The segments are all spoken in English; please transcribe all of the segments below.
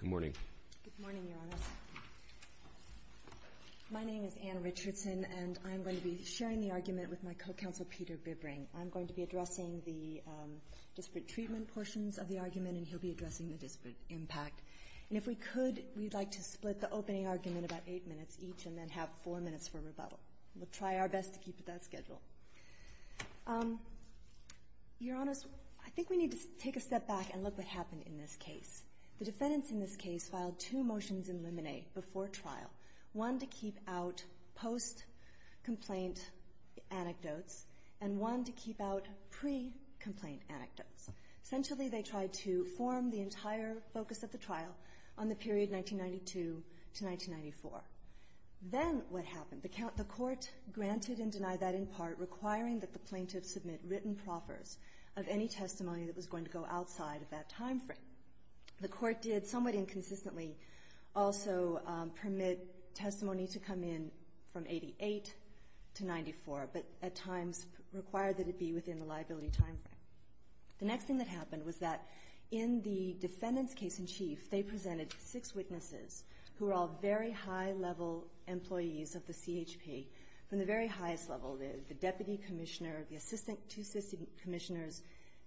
Good morning. Good morning, Your Honor. My name is Anne Richardson, and I'm going to be sharing the argument with my co-counsel Peter Bibbring. I'm going to be addressing the disparate treatment portions of the argument, and he'll be addressing the disparate impact. And if we could, we'd like to split the opening argument about eight minutes each, and then have four minutes for rebuttal. We'll try our best to keep it that schedule. Your Honor, I think we need to take a step back and look at what happened in this case. The defendants in this case filed two motions in limine before trial, one to keep out post-complaint anecdotes and one to keep out pre-complaint anecdotes. Essentially, they tried to form the entire focus of the trial on the period 1992 to 1994. Then what happened? The court granted and denied that in part, requiring that the plaintiff submit written proffers of any testimony that was going to go outside of that time frame. The court did somewhat inconsistently also permit testimony to come in from 1988 to 1994, but at times required that it be within the liability time frame. The next thing that happened was that in the defendant's case in chief, they presented six witnesses who were all very high-level employees of the CHP, from the very highest level, the deputy commissioner, the two assistant commissioners,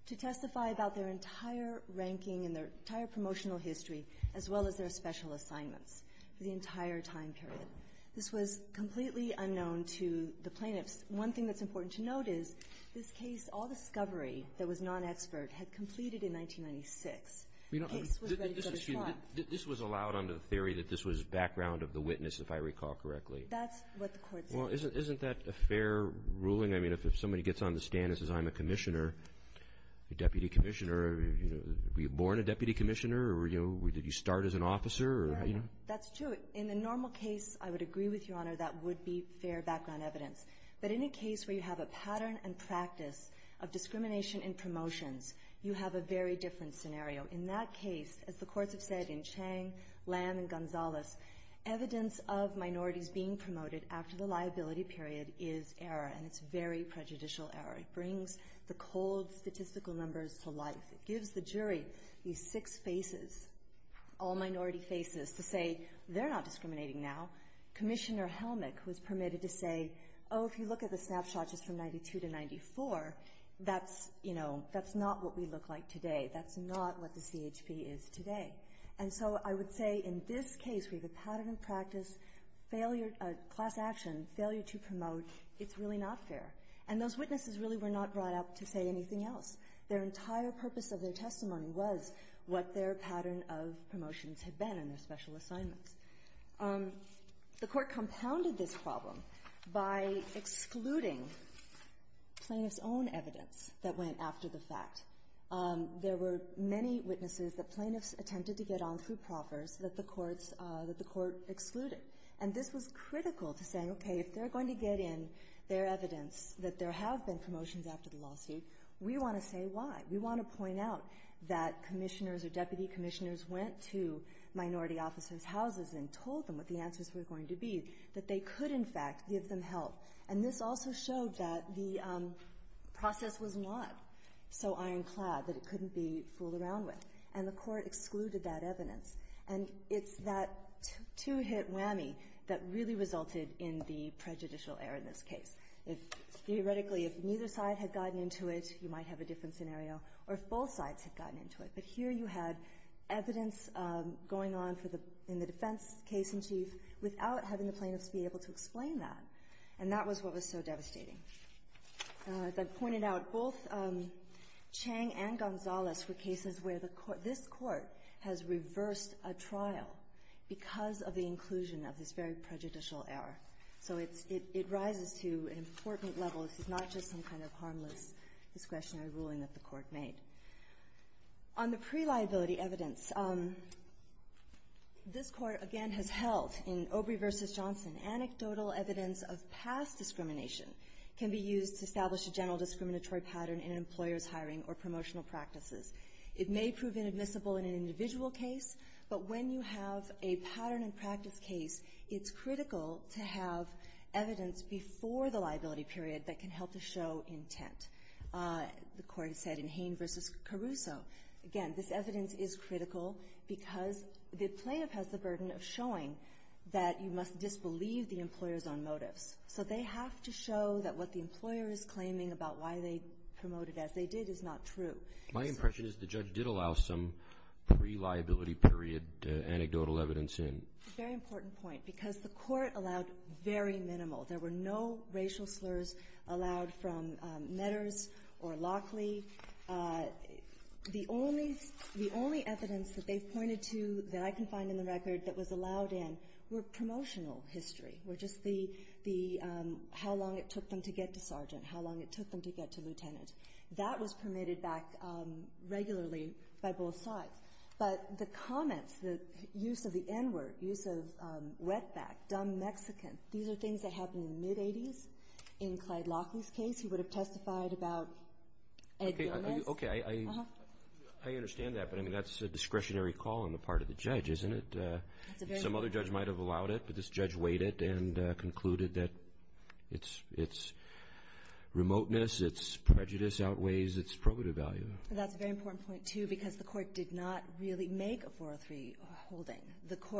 to testify about their entire ranking and their entire promotional history, as well as their special assignments for the entire time period. This was completely unknown to the plaintiffs. One thing that's important to note is this case, all discovery that was non-expert, had completed in 1996. The case was ready for the trial. This was allowed under the theory that this was background of the witness, if I recall correctly. That's what the court said. Well, isn't that a fair ruling? I mean, if somebody gets on the stand and says, I'm a commissioner, a deputy commissioner, were you born a deputy commissioner or did you start as an officer? That's true. In the normal case, I would agree with Your Honor that would be fair background evidence. But in a case where you have a pattern and practice of discrimination in promotions, you have a very different scenario. In that case, as the courts have said in Chang, Lam, and Gonzalez, evidence of minorities being promoted after the liability period is error, and it's very prejudicial error. It brings the cold statistical numbers to life. It gives the jury these six faces, all minority faces, to say they're not discriminating now. Commissioner Helmick was permitted to say, oh, if you look at the snapshots just from 92 to 94, that's, you know, that's not what we look like today. That's not what the CHP is today. And so I would say in this case, we have a pattern of practice, class action, failure to promote, it's really not fair. And those witnesses really were not brought up to say anything else. Their entire purpose of their testimony was what their pattern of promotions had been in their special assignments. The Court compounded this problem by excluding plaintiff's own evidence that went after the fact. There were many witnesses that plaintiffs attempted to get on through proffers that the courts, that the Court excluded. And this was critical to saying, okay, if they're going to get in their evidence that there have been promotions after the lawsuit, we want to say why. We want to point out that commissioners or deputy commissioners went to minority officers' houses and told them what the answers were going to be, that they could, in fact, give them help. And this also showed that the process was not so ironclad, that it couldn't be fooled around with. And the Court excluded that evidence. And it's that two-hit whammy that really resulted in the prejudicial error in this case. Theoretically, if neither side had gotten into it, you might have a different scenario, or if both sides had gotten into it. But here you had evidence going on in the defense case in chief without having the plaintiffs be able to explain that. And that was what was so devastating. As I pointed out, both Chang and Gonzalez were cases where this Court has reversed a trial because of the inclusion of this very prejudicial error. So it rises to an important level. This is not just some kind of harmless discretionary ruling that the Court made. On the pre-liability evidence, this Court, again, has held in Obrey v. Johnson anecdotal evidence of past discrimination can be used to establish a general discriminatory pattern in an employer's hiring or promotional practices. It may prove inadmissible in an individual case, but when you have a pattern in practice case, it's critical to have evidence before the liability period that can help to show intent. The Court said in Hain v. Caruso, again, this evidence is critical because the plaintiff has the burden of showing that you must disbelieve the employer's own motives. So they have to show that what the employer is claiming about why they promoted as they did is not true. My impression is the judge did allow some pre-liability period anecdotal evidence in. Very important point, because the Court allowed very minimal. There were no racial slurs allowed from Medders or Lockley. The only evidence that they pointed to that I can find in the record that was allowed in were promotional history, were just the how long it took them to get to sergeant, how long it took them to get to lieutenant. That was permitted back regularly by both sides. But the comments, the use of the N-word, use of wetback, dumb Mexican, these are things that happened in the mid-'80s in Clyde Lockley's case. He would have testified about Ed Gomez. Okay. I understand that, but, I mean, that's a discretionary call on the part of the judge, isn't it? Some other judge might have allowed it, but this judge weighed it and concluded that it's remoteness, it's prejudice outweighs its probative value. That's a very important point, too, because the Court did not really make a 403 holding,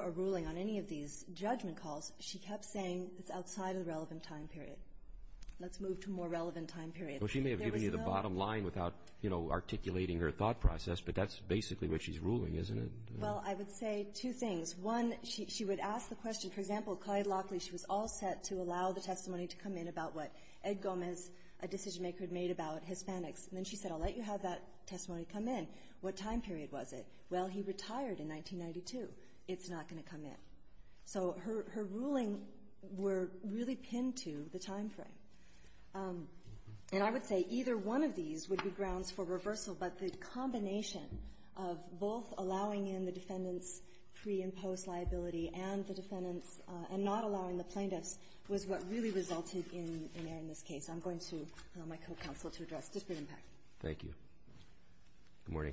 a ruling on any of these judgment calls. She kept saying it's outside of the relevant time period. Let's move to a more relevant time period. Well, she may have given you the bottom line without articulating her thought process, but that's basically what she's ruling, isn't it? Well, I would say two things. One, she would ask the question, for example, Clyde Lockley, she was all set to allow the testimony to come in about what Ed Gomez, a decision-maker, had made about Hispanics. And then she said, I'll let you have that testimony come in. What time period was it? Well, he retired in 1992. It's not going to come in. So her ruling were really pinned to the time frame. And I would say either one of these would be grounds for reversal, but the combination of both allowing in the defendant's pre- and post-liability and the defendant's not allowing the plaintiff's was what really resulted in an error in this case. I'm going to call my co-counsel to address disparate impact. Thank you. Good morning.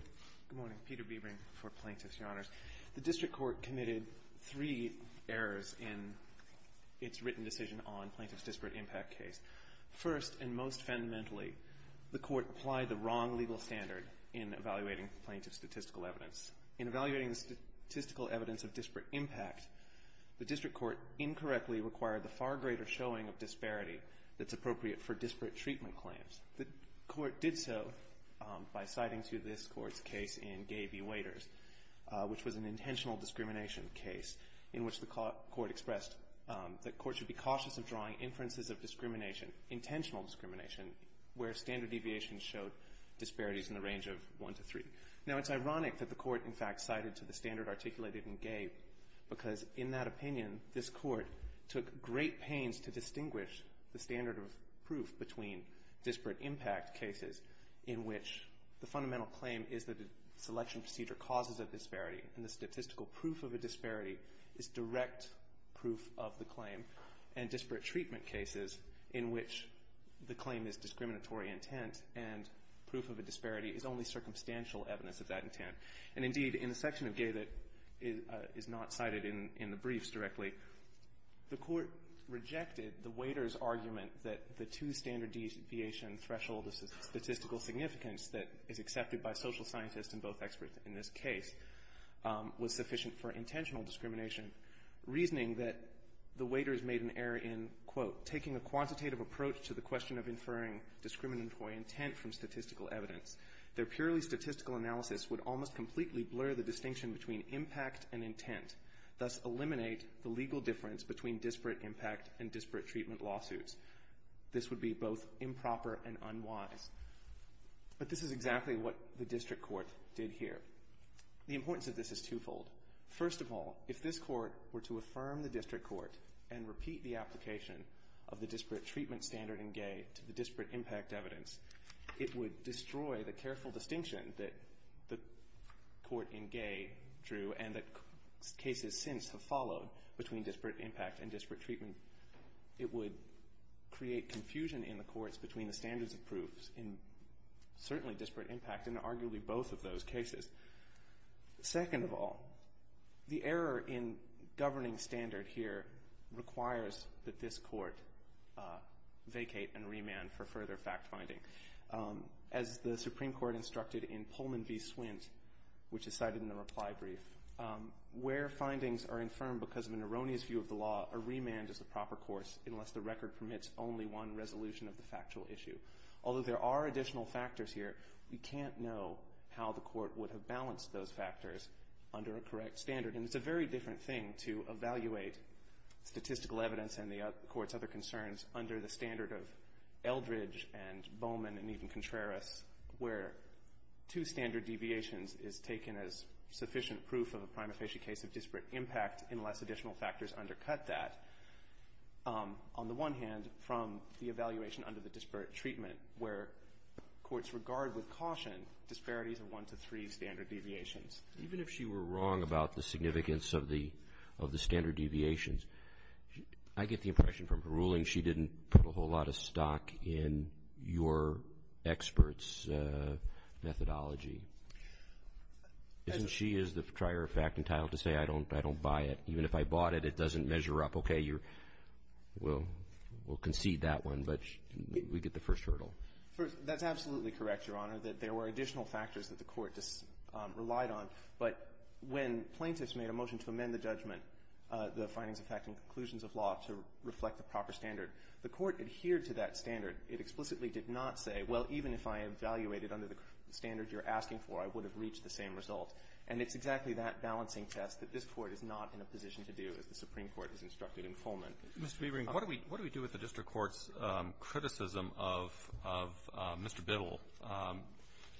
Good morning. Peter Bebring for Plaintiffs, Your Honors. The District Court committed three errors in its written decision on Plaintiffs' disparate impact case. First, and most fundamentally, the Court applied the wrong legal standard in evaluating plaintiff's statistical evidence. In evaluating the statistical evidence of disparate impact, the District Court incorrectly required the far greater showing of disparity that's appropriate for disparate treatment claims. The Court did so by citing to this Court's case in Gay v. Waiters, which was an intentional discrimination case in which the Court expressed that discrimination, intentional discrimination, where standard deviation showed disparities in the range of one to three. Now, it's ironic that the Court, in fact, cited to the standard articulated in Gay because, in that opinion, this Court took great pains to distinguish the standard of proof between disparate impact cases in which the fundamental claim is that a selection procedure causes a disparity and the statistical proof of a disparity is direct proof of the claim and disparate treatment cases in which the claim is discriminatory intent and proof of a disparity is only circumstantial evidence of that intent. And, indeed, in the section of Gay that is not cited in the briefs directly, the Court rejected the Waiters' argument that the two standard deviation threshold of statistical significance that is accepted by social scientists and both experts in this case was sufficient for intentional discrimination, reasoning that the Waiters made an error in, quote, taking a quantitative approach to the question of inferring discriminatory intent from statistical evidence. Their purely statistical analysis would almost completely blur the distinction between impact and intent, thus eliminate the legal difference between disparate impact and disparate treatment lawsuits. This would be both improper and unwise. But this is exactly what the District Court did here. The importance of this is twofold. First of all, if this Court were to affirm the District Court and repeat the application of the disparate treatment standard in Gay to the disparate impact evidence, it would destroy the careful distinction that the Court in Gay drew and that cases since have followed between disparate impact and disparate treatment. It would create confusion in the courts between the standards of proofs in certainly disparate impact in arguably both of those cases. Second of all, the error in governing standard here requires that this Court vacate and remand for further fact-finding. As the Supreme Court instructed in Pullman v. Swindt, which is cited in the reply brief, where findings are infirmed because of an erroneous view of the law, a remand is the proper course unless the record permits only one resolution of the factual issue. Although there are additional factors here, we can't know how the Court would have balanced those factors under a correct standard. And it's a very different thing to evaluate statistical evidence and the Court's other concerns under the standard of Eldridge and Bowman and even Contreras, where two standard deviations is taken as sufficient proof of a fact, on the one hand, from the evaluation under the disparate treatment, where courts regard with caution disparities of one to three standard deviations. Even if she were wrong about the significance of the standard deviations, I get the impression from her ruling she didn't put a whole lot of stock in your experts' methodology. Isn't she as the trier of fact entitled to say, I don't buy it? Even if I bought it, it doesn't measure up. Okay, we'll concede that one. But we get the first hurdle. First, that's absolutely correct, Your Honor, that there were additional factors that the Court relied on. But when plaintiffs made a motion to amend the judgment, the findings of fact and conclusions of law, to reflect the proper standard, the Court adhered to that standard. It explicitly did not say, well, even if I evaluated under the standard you're asking for, I would have reached the same result. And it's exactly that balancing test that this Court is not in a position to do, as the Supreme Court has instructed in Fulman. Mr. Biering, what do we do with the district court's criticism of Mr. Biddle?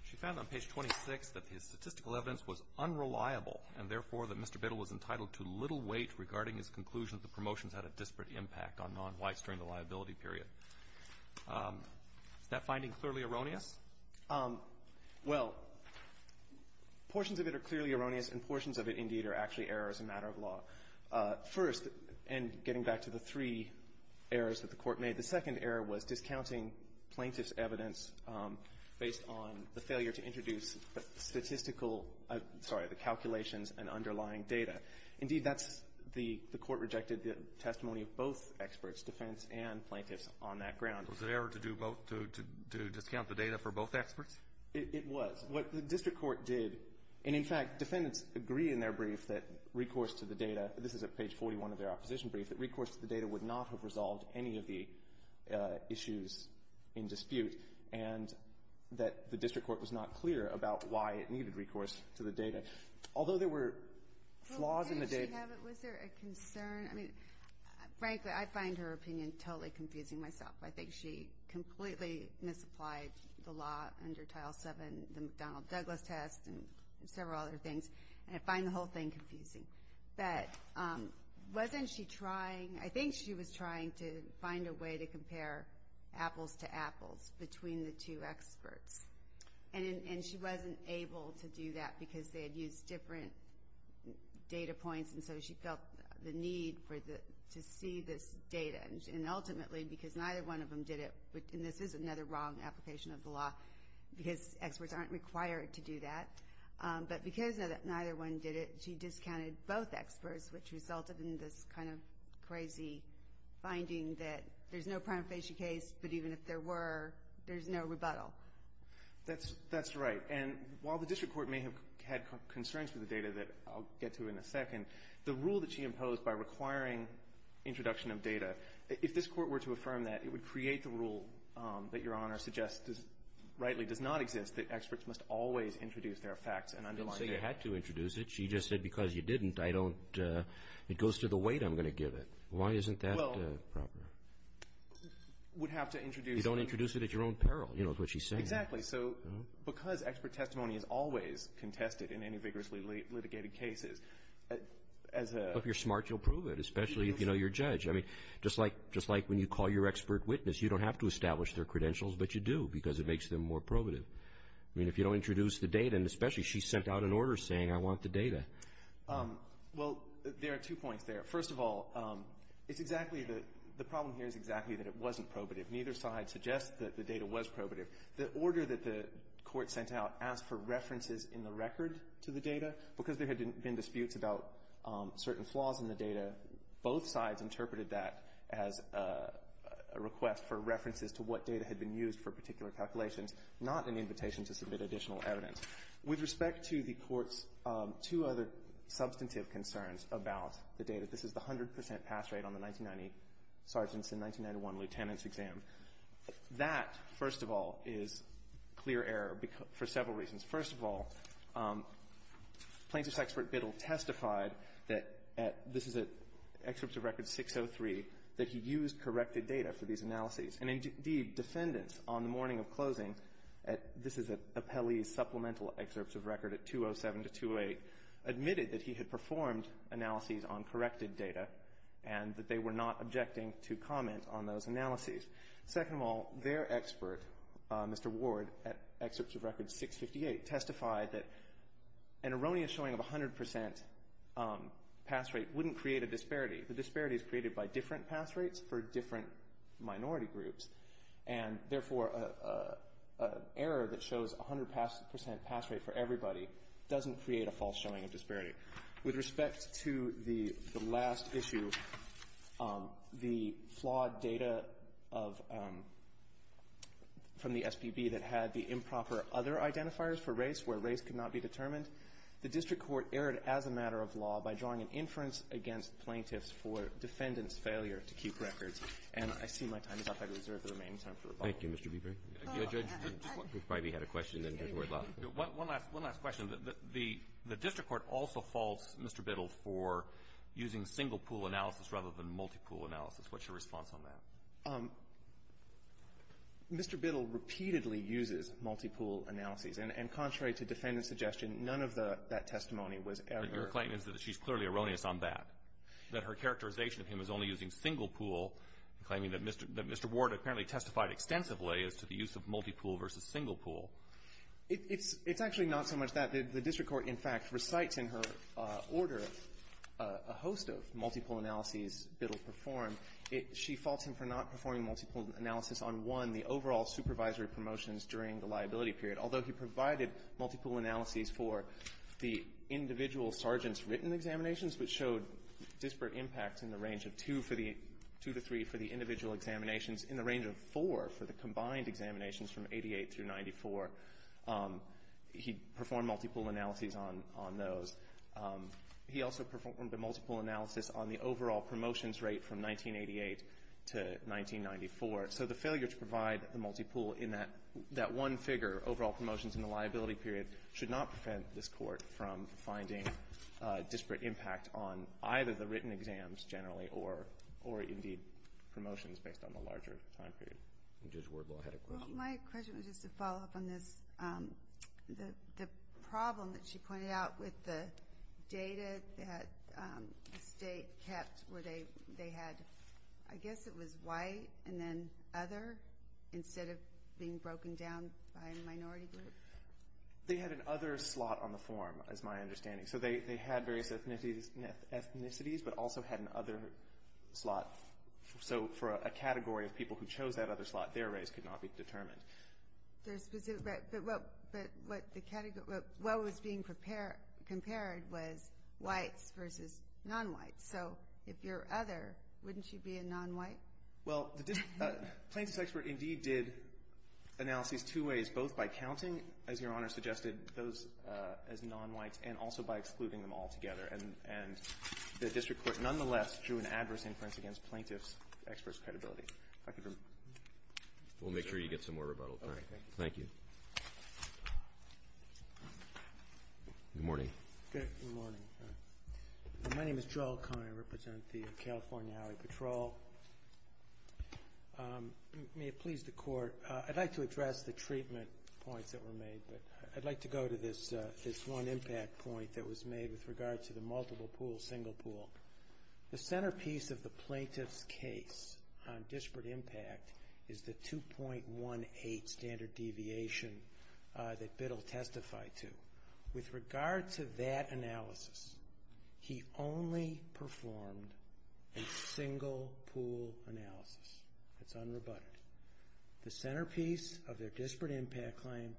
She found on page 26 that his statistical evidence was unreliable, and therefore that Mr. Biddle was entitled to little weight regarding his conclusion that the promotions had a disparate impact on non-whites during the liability period. Is that finding clearly erroneous? Well, portions of it are clearly erroneous, and portions of it, indeed, are actually errors in a matter of law. First, and getting back to the three errors that the Court made, the second error was discounting plaintiff's evidence based on the failure to introduce statistical – sorry, the calculations and underlying data. Indeed, that's – the Court rejected the testimony of both experts, defense and plaintiffs on that ground. Was it an error to do both – to discount the data for both experts? It was. What the district court did – and, in fact, defendants agree in their brief that recourse to the data – this is at page 41 of their opposition brief – that recourse to the data would not have resolved any of the issues in dispute, and that the district court was not clear about why it needed recourse to the data. Although there were flaws in the data – Well, didn't she have it? Was there a concern? I mean, frankly, I find her opinion totally confusing myself. I think she completely misapplied the law under Title VII, the McDonnell-Douglas test, and several other things, and I find the whole thing confusing. But wasn't she trying – I think she was trying to find a way to compare apples to apples between the two experts. And she wasn't able to do that because they had used different data points, and so she felt the need to see this data. And ultimately, because neither one of them did it – and this is another wrong application of the law, because experts aren't required to do that – but because neither one did it, she discounted both experts, which resulted in this kind of crazy finding that there's no prima facie case, but even if there were, there's no rebuttal. That's right. And while the district court may have had concerns with the data that I'll get to in a second, the rule that she imposed by requiring introduction of data, if this court were to affirm that, it would create the rule that Your Honor suggests rightly does not exist, that experts must always introduce their facts and underline their – Didn't say you had to introduce it. She just said, because you didn't, I don't – it goes to the weight I'm going to give it. Why isn't that proper? Well, would have to introduce – You don't introduce it at your own peril, you know, is what she's saying. Exactly. So because expert testimony is always contested in any vigorously litigated cases, as a – If you're smart, you'll prove it, especially if you know your judge. I mean, just like when you call your expert witness, you don't have to establish their credentials, but you do, because it makes them more probative. I mean, if you don't introduce the data, and especially she sent out an order saying I want the data. Well, there are two points there. First of all, it's exactly the – the problem here is exactly that it wasn't probative. Neither side suggests that the data was probative. The order that the court sent out asked for references in the record to the data. Because there had been disputes about certain flaws in the data, both sides interpreted that as a request for references to what data had been used for particular calculations, not an invitation to submit additional evidence. With respect to the court's two other substantive concerns about the data, this is the 100 percent pass rate on the 1990 – sorry, since the 1991 lieutenant's exam. That, first of all, is clear error for several reasons. First of all, plaintiff's expert Biddle testified that – this is at excerpts of record 603 – that he used corrected data for these analyses. And indeed, defendants on the morning of closing at – this is at Appellee's supplemental excerpts of record at 207 to 208 – admitted that he had performed analyses on corrected data and that they were not objecting to comment on those analyses. Second of all, their expert, Mr. Ward, at excerpts of record 658, testified that an erroneous showing of 100 percent pass rate wouldn't create a disparity. The disparity is created by different pass rates for different minority groups, and therefore an error that shows 100 percent pass rate for everybody doesn't create a false showing of disparity. With respect to the last issue, the flawed data of – from the SBB that had the improper other identifiers for race where race could not be determined, the district court erred as a matter of law by drawing an inference against plaintiffs for defendants' failure to keep records. And I see my time is up. I reserve the remaining time for rebuttal. Thank you, Mr. Beeper. Judge, we probably had a question. One last question. The district court also faults Mr. Biddle for using single-pool analysis rather than multi-pool analysis. What's your response on that? Mr. Biddle repeatedly uses multi-pool analyses. And contrary to defendant's suggestion, none of that testimony was ever – But your claim is that she's clearly erroneous on that, that her characterization of him is only using single-pool, claiming that Mr. Ward apparently testified extensively as to the use of multi-pool versus single-pool. It's actually not so much that. The district court, in fact, recites in her order a host of multi-pool analyses Biddle performed. She faults him for not performing multi-pool analysis on, one, the overall supervisory promotions during the liability period. Although he provided multi-pool analyses for the individual sergeant's written examinations, which showed disparate impacts in the range of two for the – two to three for the individual examinations, in the range of four for the combined examinations from 88 through 94, he performed multi-pool analyses on those. He also performed the multi-pool analysis on the overall promotions rate from 1988 to 1994. So the failure to provide the multi-pool in that one figure, overall promotions in the liability period, should not prevent this court from finding disparate impact on either the written exams, generally, or indeed promotions based on the larger time period. Judge Ward will ahead a question. Well, my question was just to follow up on this. The problem that she pointed out with the data that the State kept where they had – I guess it was white and then other instead of being broken down by a race. They had an other slot on the form, is my understanding. So they had various ethnicities, but also had an other slot. So for a category of people who chose that other slot, their race could not be determined. But what the category – what was being compared was whites versus non-whites. So if you're other, wouldn't you be a non-white? Well, the plaintiff's expert indeed did analysis two ways, both by counting, as Your Honor suggested, those as non-whites and also by excluding them altogether. And the district court nonetheless drew an adverse inference against plaintiff's expert's credibility. We'll make sure you get some more rebuttal time. Thank you. Good morning. Good morning. My name is Joel Kine. I represent the California Alley Patrol. May it please the Court, I'd like to address the treatment points that were made, but I'd like to go to this one impact point that was made with regard to the multiple pool, single pool. The centerpiece of the plaintiff's case on disparate impact is the 2.18 standard deviation that Biddle testified to. With regard to that analysis, he only performed a single pool analysis. It's unrebutted. The centerpiece of their disparate impact claim,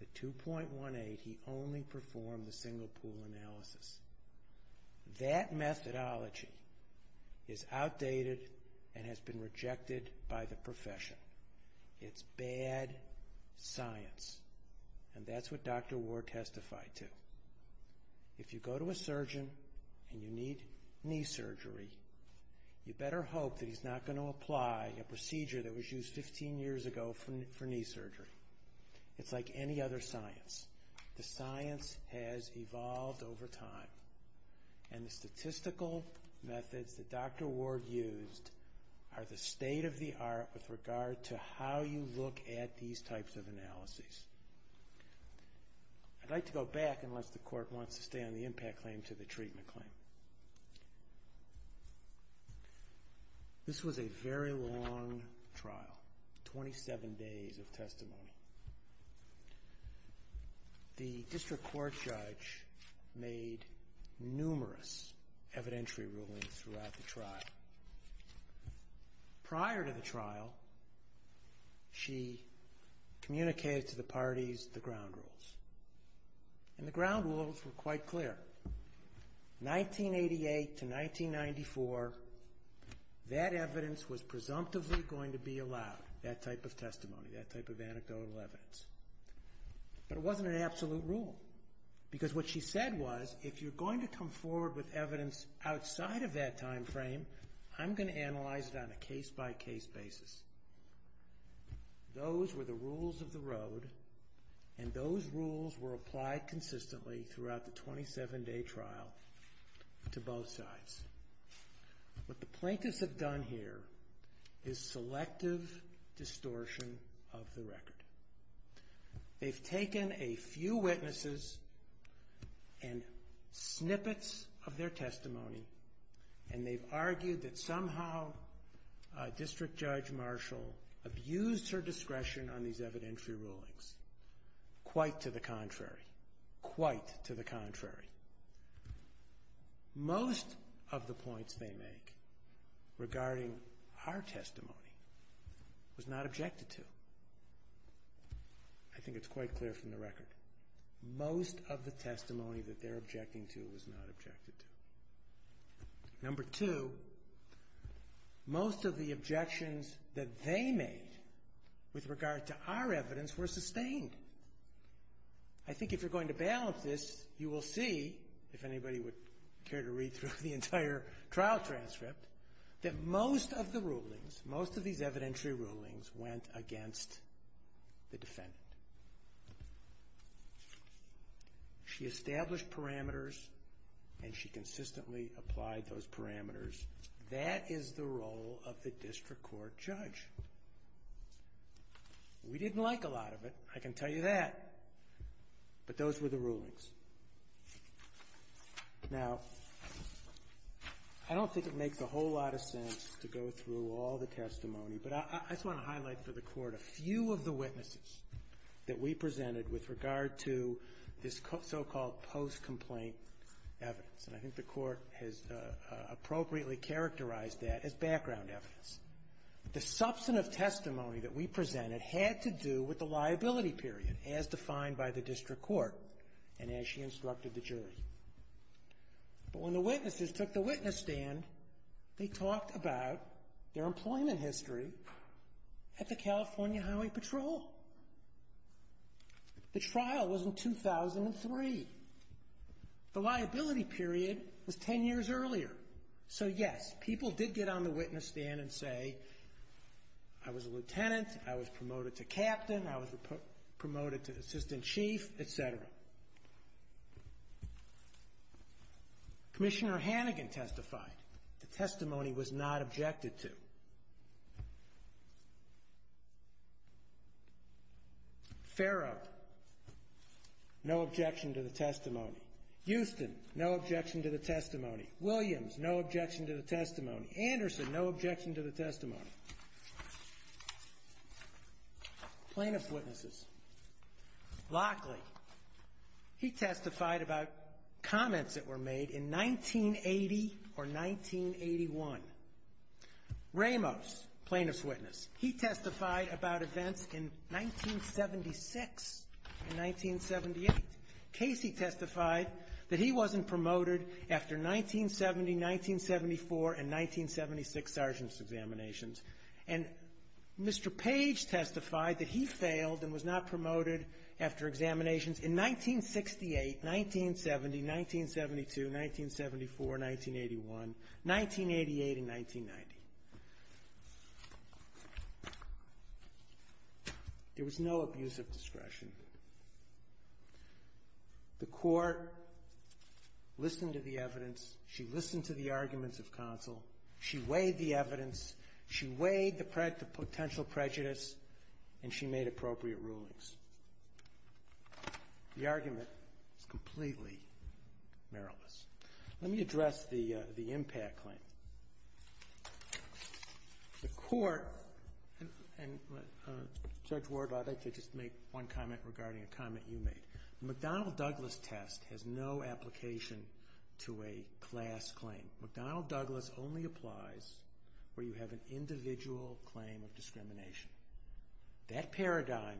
the 2.18, he only performed the single pool analysis. That methodology is outdated and has been rejected by the profession. It's bad science. And that's what Dr. Ward testified to. If you go to a surgeon and you need knee surgery, you better hope that he's not going to apply a procedure that was used 15 years ago for knee surgery. It's like any other science. The science has evolved over time. And the statistical methods that Dr. Ward used are the state of the art with I'd like to go back, unless the court wants to stay on the impact claim, to the treatment claim. This was a very long trial, 27 days of testimony. The district court judge made numerous evidentiary rulings throughout the trial. Prior to the trial, she communicated to the parties the ground rules. And the ground rules were quite clear. 1988 to 1994, that evidence was presumptively going to be allowed, that type of testimony, that type of anecdotal evidence. But it wasn't an absolute rule. Because what she said was, if you're going to come forward with evidence outside of that time frame, I'm going to analyze it on a case-by-case basis. Those were the rules of the road, and those rules were applied consistently throughout the 27-day trial to both sides. What the plaintiffs have done here is selective distortion of the record. They've taken a few witnesses and snippets of their testimony, and they've argued that somehow District Judge Marshall abused her discretion on these evidentiary rulings. Quite to the contrary, quite to the contrary. Most of the points they make regarding our testimony was not objected to. I think it's quite clear from the record. Most of the testimony that they're objecting to was not objected to. Number two, most of the objections that they made with regard to our evidence were sustained. I think if you're going to balance this, you will see, if anybody would care to read through the entire trial transcript, that most of the rulings, most of these evidentiary rulings, went against the defendant. She established parameters, and she consistently applied those parameters. That is the role of the district court judge. We didn't like a lot of it, I can tell you that. But those were the rulings. Now, I don't think it makes a whole lot of sense to go through all the testimony, but I just want to highlight for the Court a few of the witnesses that we presented with regard to this so-called post-complaint evidence. And I think the Court has appropriately characterized that as background evidence. The substantive testimony that we presented had to do with the liability period, as defined by the district court and as she instructed the jury. But when the witnesses took the witness stand, they talked about their employment history at the California Highway Patrol. The trial was in 2003. The liability period was 10 years earlier. So, yes, people did get on the witness stand and say, I was a lieutenant, I was promoted to captain, I was promoted to assistant chief, et cetera. Commissioner Hannigan testified. The testimony was not objected to. Farrow, no objection to the testimony. Houston, no objection to the testimony. Williams, no objection to the testimony. Anderson, no objection to the testimony. Plaintiff's witnesses. Lockley, he testified about comments that were made in 1980 or 1981. Ramos, plaintiff's witness, he testified about events in 1976 and 1978. Casey testified that he wasn't promoted after 1970, 1974, and 1976 sergeant's examinations. And Mr. Page testified that he failed and was not promoted after examinations in 1968, 1970, 1972, 1974, 1981, 1988, and 1990. There was no abuse of discretion. The court listened to the evidence. She listened to the arguments of counsel. She weighed the evidence. She weighed the potential prejudice, and she made appropriate rulings. The argument is completely meriless. Let me address the impact claim. The court, and Judge Ward, I'd like to just make one comment regarding a comment you made. The McDonnell-Douglas test has no application to a class claim. McDonnell-Douglas only applies where you have an individual claim of discrimination. That paradigm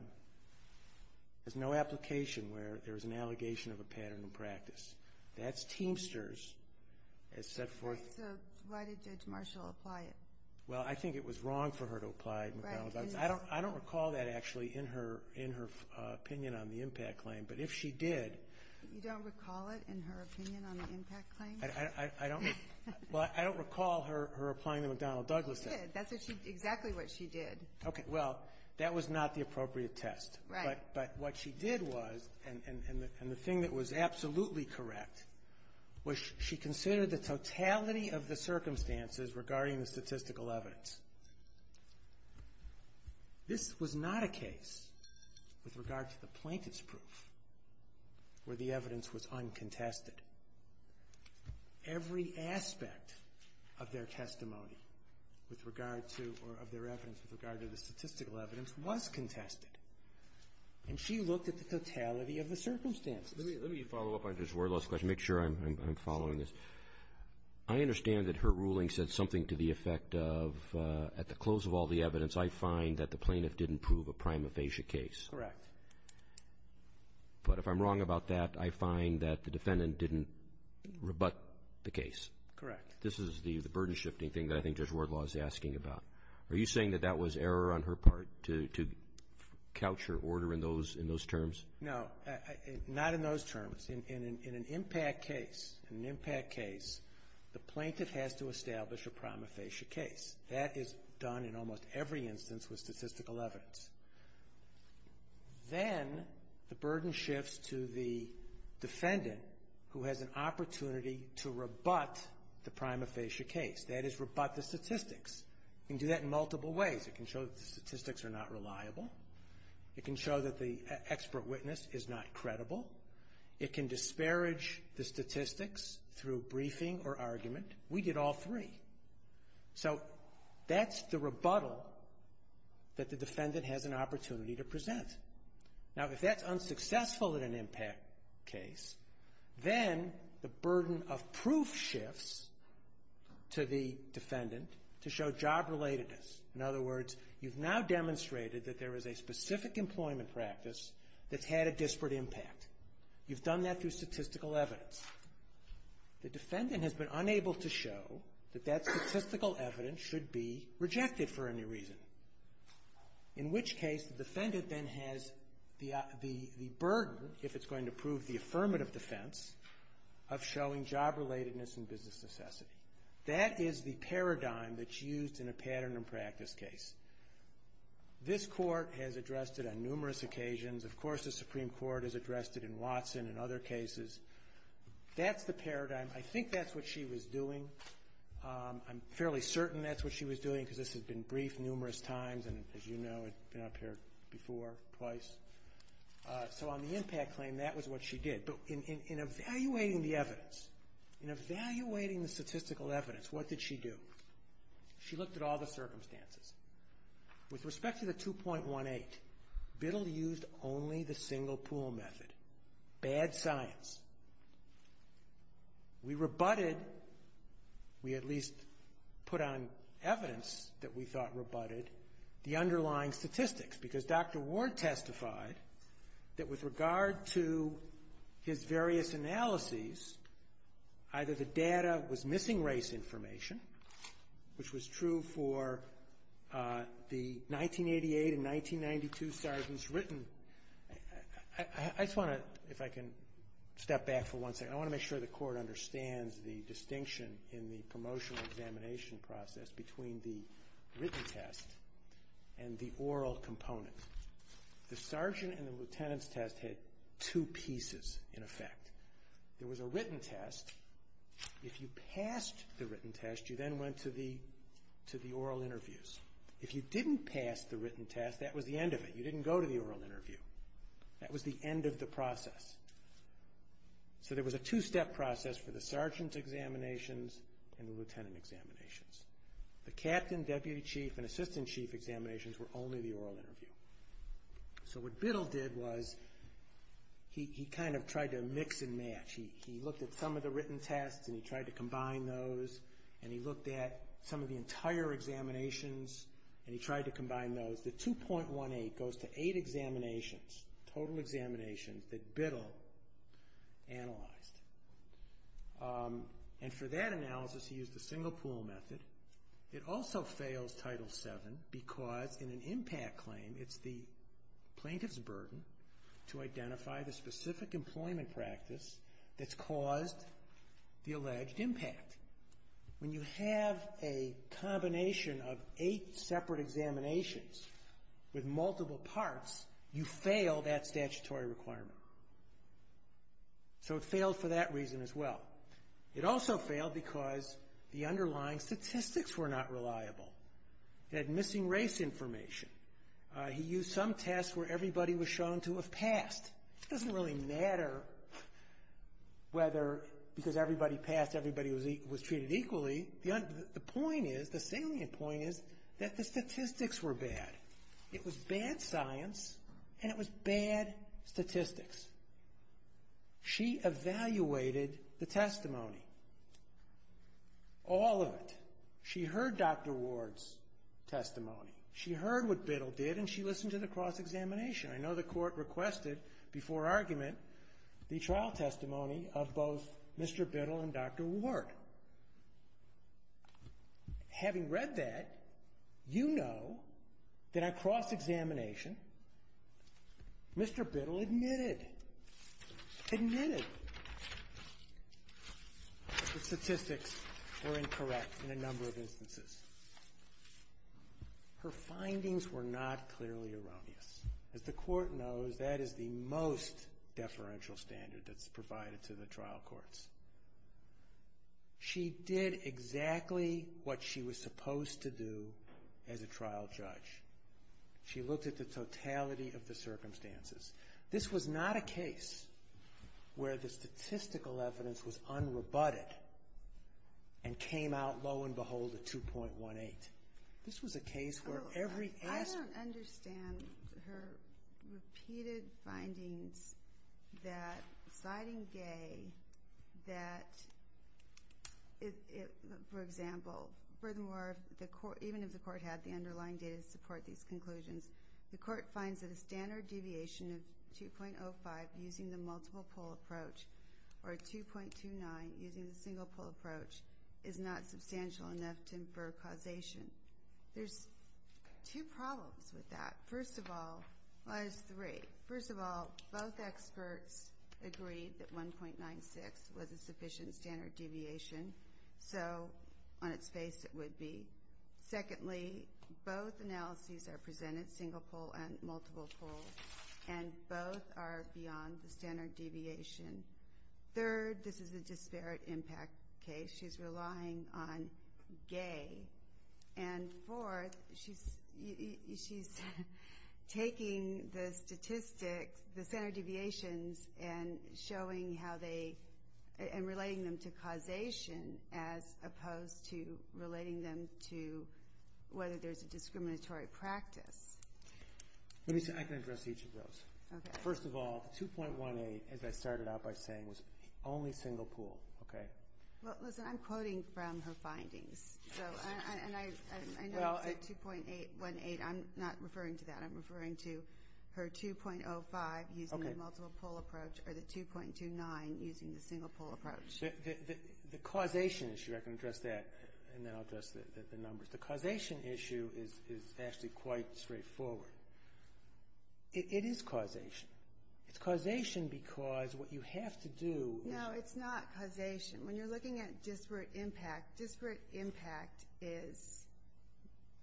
has no application where there is an allegation of a pattern of practice. That's teamsters, as set forth. So why did Judge Marshall apply it? Well, I think it was wrong for her to apply McDonnell-Douglas. I don't recall that actually in her opinion on the impact claim, but if she did. You don't recall it in her opinion on the impact claim? I don't recall her applying the McDonnell-Douglas test. Well, you did. That's exactly what she did. Okay. Well, that was not the appropriate test. Right. But what she did was, and the thing that was absolutely correct, was she considered the totality of the circumstances regarding the statistical evidence. This was not a case with regard to the plaintiff's proof where the evidence was uncontested. Every aspect of their testimony with regard to, or of their evidence with regard to the statistical evidence was contested. And she looked at the totality of the circumstances. Let me follow up on Judge Wardlow's question, make sure I'm following this. I understand that her ruling said something to the effect of, at the close of all the evidence, I find that the plaintiff didn't prove a prima facie case. Correct. But if I'm wrong about that, I find that the defendant didn't rebut the case. Correct. This is the burden-shifting thing that I think Judge Wardlow is asking about. Are you saying that that was error on her part to couch her order in those terms? No, not in those terms. In an impact case, in an impact case, the plaintiff has to establish a prima facie case. That is done in almost every instance with statistical evidence. Then the burden shifts to the defendant who has an opportunity to rebut the prima facie case. That is, rebut the statistics. You can do that in multiple ways. It can show that the statistics are not reliable. It can show that the expert witness is not credible. It can disparage the statistics through briefing or argument. We did all three. So that's the rebuttal that the defendant has an opportunity to present. Now, if that's unsuccessful in an impact case, then the burden of proof shifts to the defendant to show job-relatedness. In other words, you've now demonstrated that there is a specific employment practice that's had a disparate impact. You've done that through statistical evidence. The defendant has been unable to show that that statistical evidence should be rejected for any reason, in which case the defendant then has the burden, if it's going to prove the affirmative defense, of showing job-relatedness and business necessity. That is the paradigm that's used in a pattern and practice case. This Court has addressed it on numerous occasions. Of course, the Supreme Court has addressed it in Watson and other cases. That's the paradigm. I think that's what she was doing. I'm fairly certain that's what she was doing because this has been briefed numerous times, and as you know, it's been up here before, twice. So on the impact claim, that was what she did. But in evaluating the evidence, in evaluating the statistical evidence, what did she do? She looked at all the circumstances. With respect to the 2.18, Biddle used only the single pool method. Bad science. We rebutted, we at least put on evidence that we thought rebutted, the underlying statistics because Dr. Ward testified that with regard to his various analyses, either the data was missing race information, which was true for the 1988 and 1992 sergeant's written. I just want to, if I can step back for one second, I want to make sure the Court understands the distinction in the promotional examination process between the written test and the oral component. The sergeant and the lieutenant's test had two pieces in effect. There was a written test. If you passed the written test, you then went to the oral interviews. If you didn't pass the written test, that was the end of it. You didn't go to the oral interview. That was the end of the process. So there was a two-step process for the sergeant's examinations and the lieutenant examinations. The captain, deputy chief, and assistant chief examinations were only the oral interview. So what Biddle did was he kind of tried to mix and match. He looked at some of the written tests, and he tried to combine those, and he looked at some of the entire examinations, and he tried to combine those. The 2.18 goes to eight examinations, total examinations, that Biddle analyzed. And for that analysis, he used the single pool method. It also fails Title VII because in an impact claim, it's the plaintiff's burden to identify the specific employment practice that's caused the alleged impact. When you have a combination of eight separate examinations with multiple parts, you fail that statutory requirement. So it failed for that reason as well. It also failed because the underlying statistics were not reliable. It had missing race information. He used some tests where everybody was shown to have passed. It doesn't really matter whether because everybody passed, everybody was treated equally. The point is, the salient point is that the statistics were bad. It was bad science, and it was bad statistics. She evaluated the testimony, all of it. She heard Dr. Ward's testimony. She heard what Biddle did, and she listened to the cross-examination. I know the court requested before argument the trial testimony of both Mr. Biddle and Dr. Ward. Having read that, you know that at cross-examination, Mr. Biddle admitted, admitted that statistics were incorrect in a number of instances. Her findings were not clearly erroneous. As the court knows, that is the most deferential standard that's provided to the trial courts. She did exactly what she was supposed to do as a trial judge. She looked at the totality of the circumstances. This was not a case where the statistical evidence was unrebutted and came out, lo and behold, a 2.18. I don't understand her repeated findings that, citing Gay, that, for example, furthermore, even if the court had the underlying data to support these conclusions, the court finds that a standard deviation of 2.05 using the multiple poll approach, or 2.29 using the single poll approach, is not substantial enough to infer causation. There's two problems with that. First of all, well, there's three. First of all, both experts agreed that 1.96 was a sufficient standard deviation, so on its face it would be. Secondly, both analyses are presented, single poll and multiple poll, and both are beyond the standard deviation. Third, this is a disparate impact case. She's relying on Gay. And fourth, she's taking the statistics, the standard deviations, and relating them to causation as opposed to relating them to whether there's a discriminatory practice. Let me see. I can address each of those. Okay. First of all, 2.18, as I started out by saying, was only single poll. Okay. Well, listen, I'm quoting from her findings, so I know it's 2.18. I'm not referring to that. I'm referring to her 2.05, using the multiple poll approach, or the 2.29, using the single poll approach. The causation issue, I can address that, and then I'll address the numbers. The causation issue is actually quite straightforward. It is causation. It's causation because what you have to do is- No, it's not causation. When you're looking at disparate impact, disparate impact is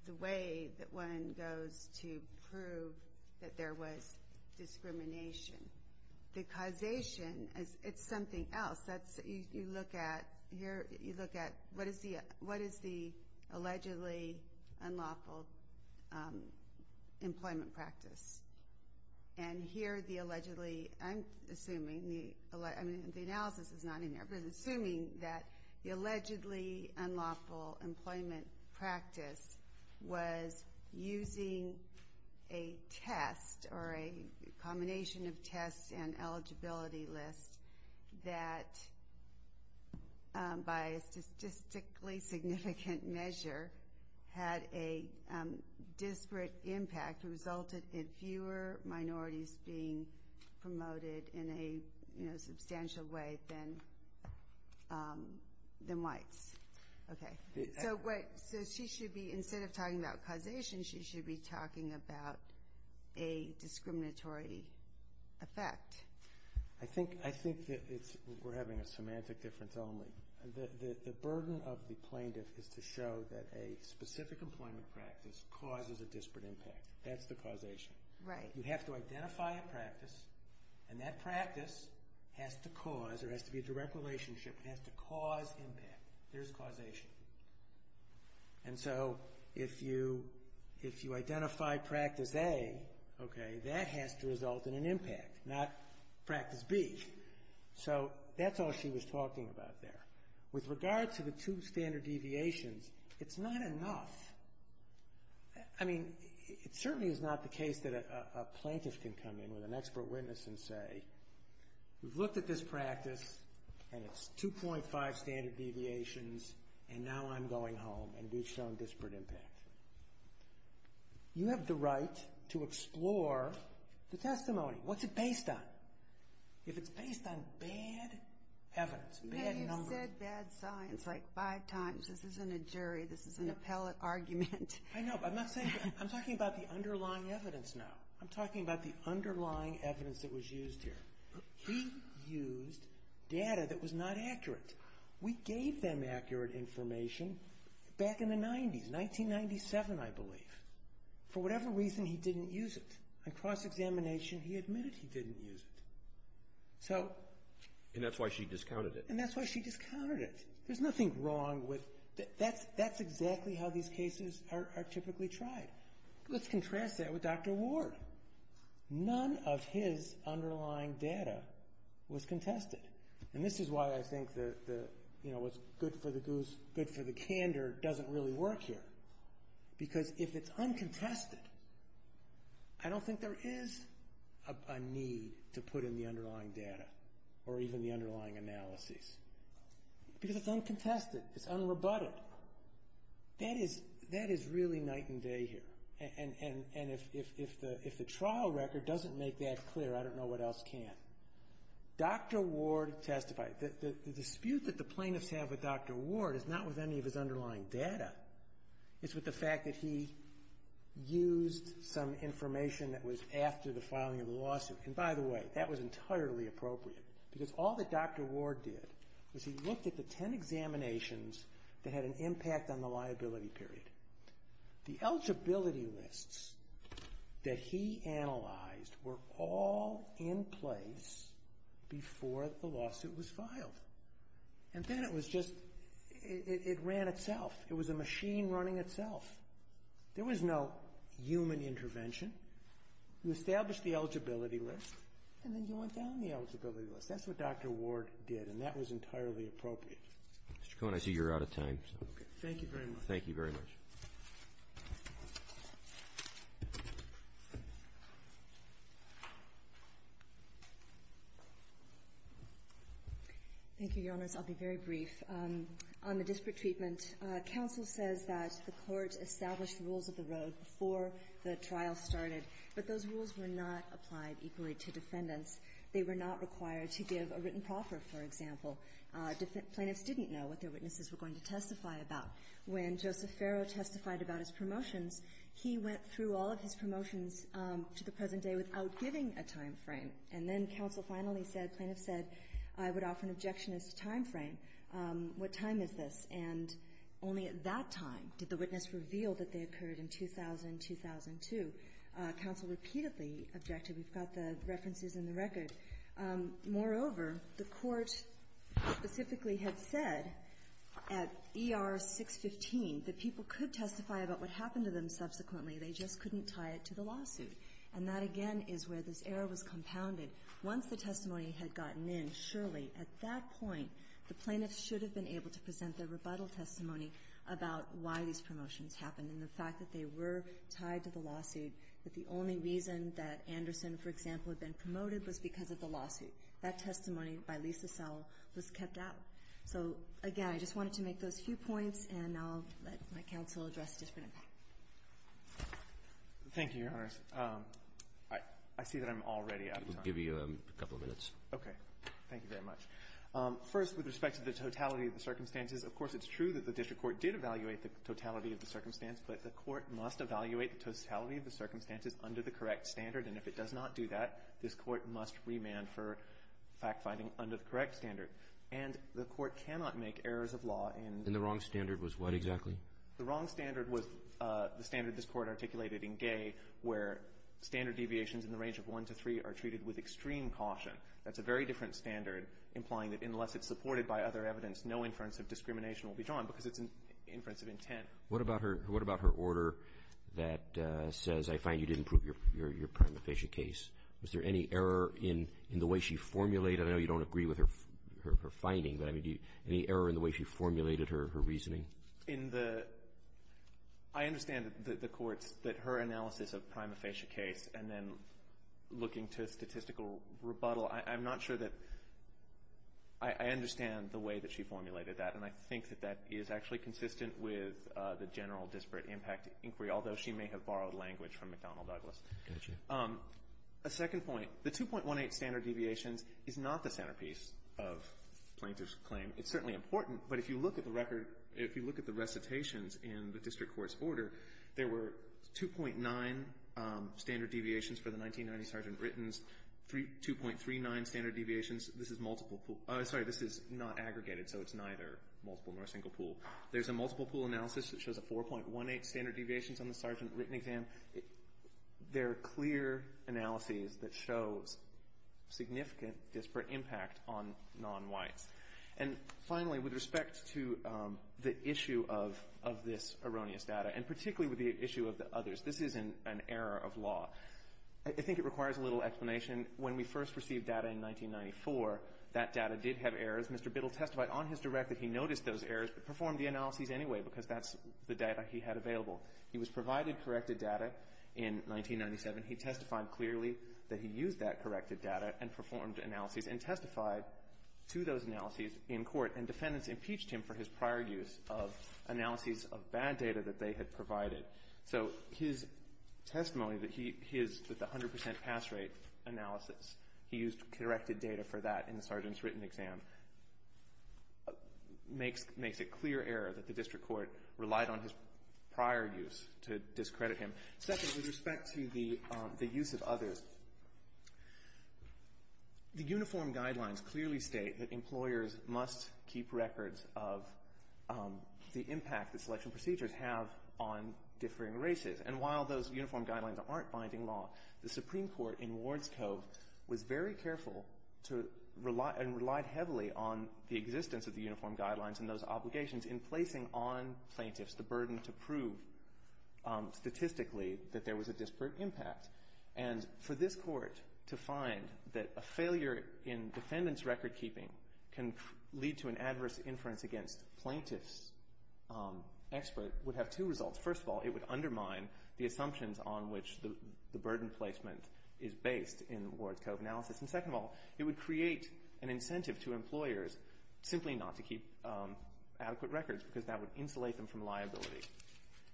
the way that one goes to prove that there was discrimination. The causation, it's something else. You look at what is the allegedly unlawful employment practice. And here the allegedly, I'm assuming, I mean, the analysis is not in there, but assuming that the allegedly unlawful employment practice was using a test or a combination of tests and eligibility lists that by a statistically significant measure had a disparate impact, resulted in fewer minorities being promoted in a substantial way than whites. Okay. So she should be, instead of talking about causation, she should be talking about a discriminatory effect. I think that we're having a semantic difference only. The burden of the plaintiff is to show that a specific employment practice causes a disparate impact. That's the causation. Right. You have to identify a practice, and that practice has to cause, or has to be a direct relationship, has to cause impact. There's causation. And so if you identify practice A, okay, that has to result in an impact, not practice B. So that's all she was talking about there. With regard to the two standard deviations, it's not enough. I mean, it certainly is not the case that a plaintiff can come in with an expert witness and say, we've looked at this practice, and it's 2.5 standard deviations, and now I'm going home, and we've shown disparate impact. You have the right to explore the testimony. What's it based on? If it's based on bad evidence, bad numbers. You've said bad science like five times. This isn't a jury. This is an appellate argument. I know, but I'm not saying that. I'm talking about the underlying evidence now. I'm talking about the underlying evidence that was used here. He used data that was not accurate. We gave them accurate information back in the 90s, 1997, I believe. For whatever reason, he didn't use it. On cross-examination, he admitted he didn't use it. And that's why she discounted it. And that's why she discounted it. There's nothing wrong with that. That's exactly how these cases are typically tried. Let's contrast that with Dr. Ward. None of his underlying data was contested. And this is why I think what's good for the goose, good for the candor, doesn't really work here. Because if it's uncontested, I don't think there is a need to put in the underlying data or even the underlying analyses. Because it's uncontested. It's unrebutted. That is really night and day here. And if the trial record doesn't make that clear, I don't know what else can. Dr. Ward testified. The dispute that the plaintiffs have with Dr. Ward is not with any of his underlying data. It's with the fact that he used some information that was after the filing of the lawsuit. And by the way, that was entirely appropriate. Because all that Dr. Ward did was he looked at the ten examinations that had an impact on the liability period. The eligibility lists that he analyzed were all in place before the lawsuit was filed. And then it was just, it ran itself. It was a machine running itself. There was no human intervention. You established the eligibility list, and then you went down the eligibility list. That's what Dr. Ward did, and that was entirely appropriate. Mr. Cohen, I see you're out of time. Thank you very much. Thank you very much. Thank you, Your Honors. I'll be very brief. On the disparate treatment, counsel says that the court established the rules of the road before the trial started, but those rules were not applied equally to defendants. They were not required to give a written proffer, for example. Plaintiffs didn't know what their witnesses were going to testify about. When Joseph Ferro testified about his promotions, he went through all of his promotions to the present day without giving a time frame. And then counsel finally said, plaintiffs said, I would offer an objection as to time frame. What time is this? And only at that time did the witness reveal that they occurred in 2000, 2002. Counsel repeatedly objected. We've got the references in the record. Moreover, the court specifically had said at ER 615 that people could testify about what happened to them subsequently, they just couldn't tie it to the lawsuit. And that, again, is where this error was compounded. Once the testimony had gotten in, surely at that point the plaintiffs should have been able to present their rebuttal testimony about why these promotions happened and the fact that they were tied to the lawsuit, but the only reason that Anderson, for example, had been promoted was because of the lawsuit. That testimony by Lisa Sowell was kept out. So, again, I just wanted to make those few points, and I'll let my counsel address the different impact. Thank you, Your Honors. I see that I'm already out of time. We'll give you a couple of minutes. Okay. Thank you very much. First, with respect to the totality of the circumstances, of course it's true that the district court did evaluate the totality of the circumstance, but the court must evaluate the totality of the circumstances under the correct standard, and if it does not do that, this court must remand for fact-finding under the correct standard. And the court cannot make errors of law in the wrong standard. And the wrong standard was what exactly? The wrong standard was the standard this court articulated in Gay, where standard deviations in the range of 1 to 3 are treated with extreme caution. That's a very different standard, implying that unless it's supported by other evidence, no inference of discrimination will be drawn because it's an inference of intent. What about her order that says, I find you didn't prove your prima facie case? Was there any error in the way she formulated it? I know you don't agree with her finding, but I mean, any error in the way she formulated her reasoning? In the – I understand the court's – that her analysis of prima facie case and then looking to statistical rebuttal, I'm not sure that – I understand the way that she formulated that, and I think that that is actually consistent with the general disparate impact inquiry, although she may have borrowed language from McDonnell Douglas. A second point. The 2.18 standard deviations is not the centerpiece of Plaintiff's claim. It's certainly important, but if you look at the record – if you look at the recitations in the district court's order, there were 2.9 standard deviations for the 1990 Sergeant Britton's, 2.39 standard deviations. This is multiple – sorry, this is not aggregated, so it's neither multiple nor a single pool. There's a multiple pool analysis that shows a 4.18 standard deviations on the Sergeant Britton exam. They're clear analyses that shows significant disparate impact on non-whites. And finally, with respect to the issue of this erroneous data, and particularly with the issue of the others, this is an error of law. I think it requires a little explanation. When we first received data in 1994, that data did have errors. Mr. Biddle testified on his direct that he noticed those errors but performed the analyses anyway because that's the data he had available. He was provided corrected data in 1997. He testified clearly that he used that corrected data and performed analyses and testified to those analyses in court, and defendants impeached him for his prior use of analyses of bad data that they had provided. So his testimony that he is with the 100% pass rate analysis, he used corrected data for that in the Sergeant's written exam, makes it clear error that the district court relied on his prior use to discredit him. Second, with respect to the use of others, the uniform guidelines clearly state that employers must keep records of the impact that selection procedures have on differing races. And while those uniform guidelines aren't binding law, the Supreme Court in Wards Cove was very careful and relied heavily on the existence of the uniform guidelines and those obligations in placing on plaintiffs the burden to prove statistically that there was a disparate impact. And for this court to find that a failure in defendants' recordkeeping can lead to an adverse inference against plaintiffs' expert would have two results. First of all, it would undermine the assumptions on which the burden placement is based in Wards Cove analysis. And second of all, it would create an incentive to employers simply not to keep adequate records because that would insulate them from liability.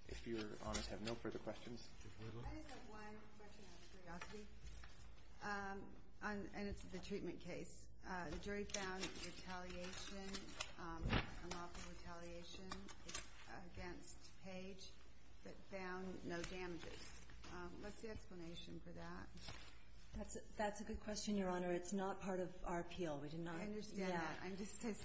If your honors have no further questions. I just have one question out of curiosity, and it's the treatment case. The jury found retaliation, unlawful retaliation against Page, but found no damages. What's the explanation for that? That's a good question, Your Honor. It's not part of our appeal. We did not. I understand that. I'm just as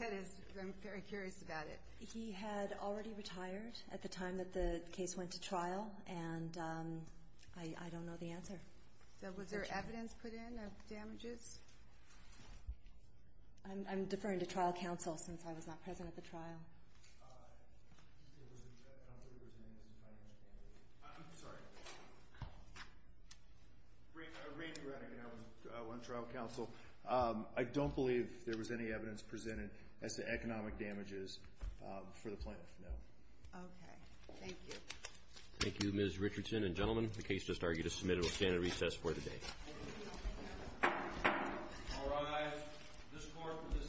curious about it. He had already retired at the time that the case went to trial, and I don't know the answer. Was there evidence put in of damages? I'm deferring to trial counsel since I was not present at the trial. I'm sorry. Randy Renick, and I was on trial counsel. I don't believe there was any evidence presented as to economic damages for the plaintiff, no. Okay. Thank you. Thank you, Ms. Richardson and gentlemen. The case is submitted. We'll stand at recess for the day. All rise. This court for this session stands adjourned.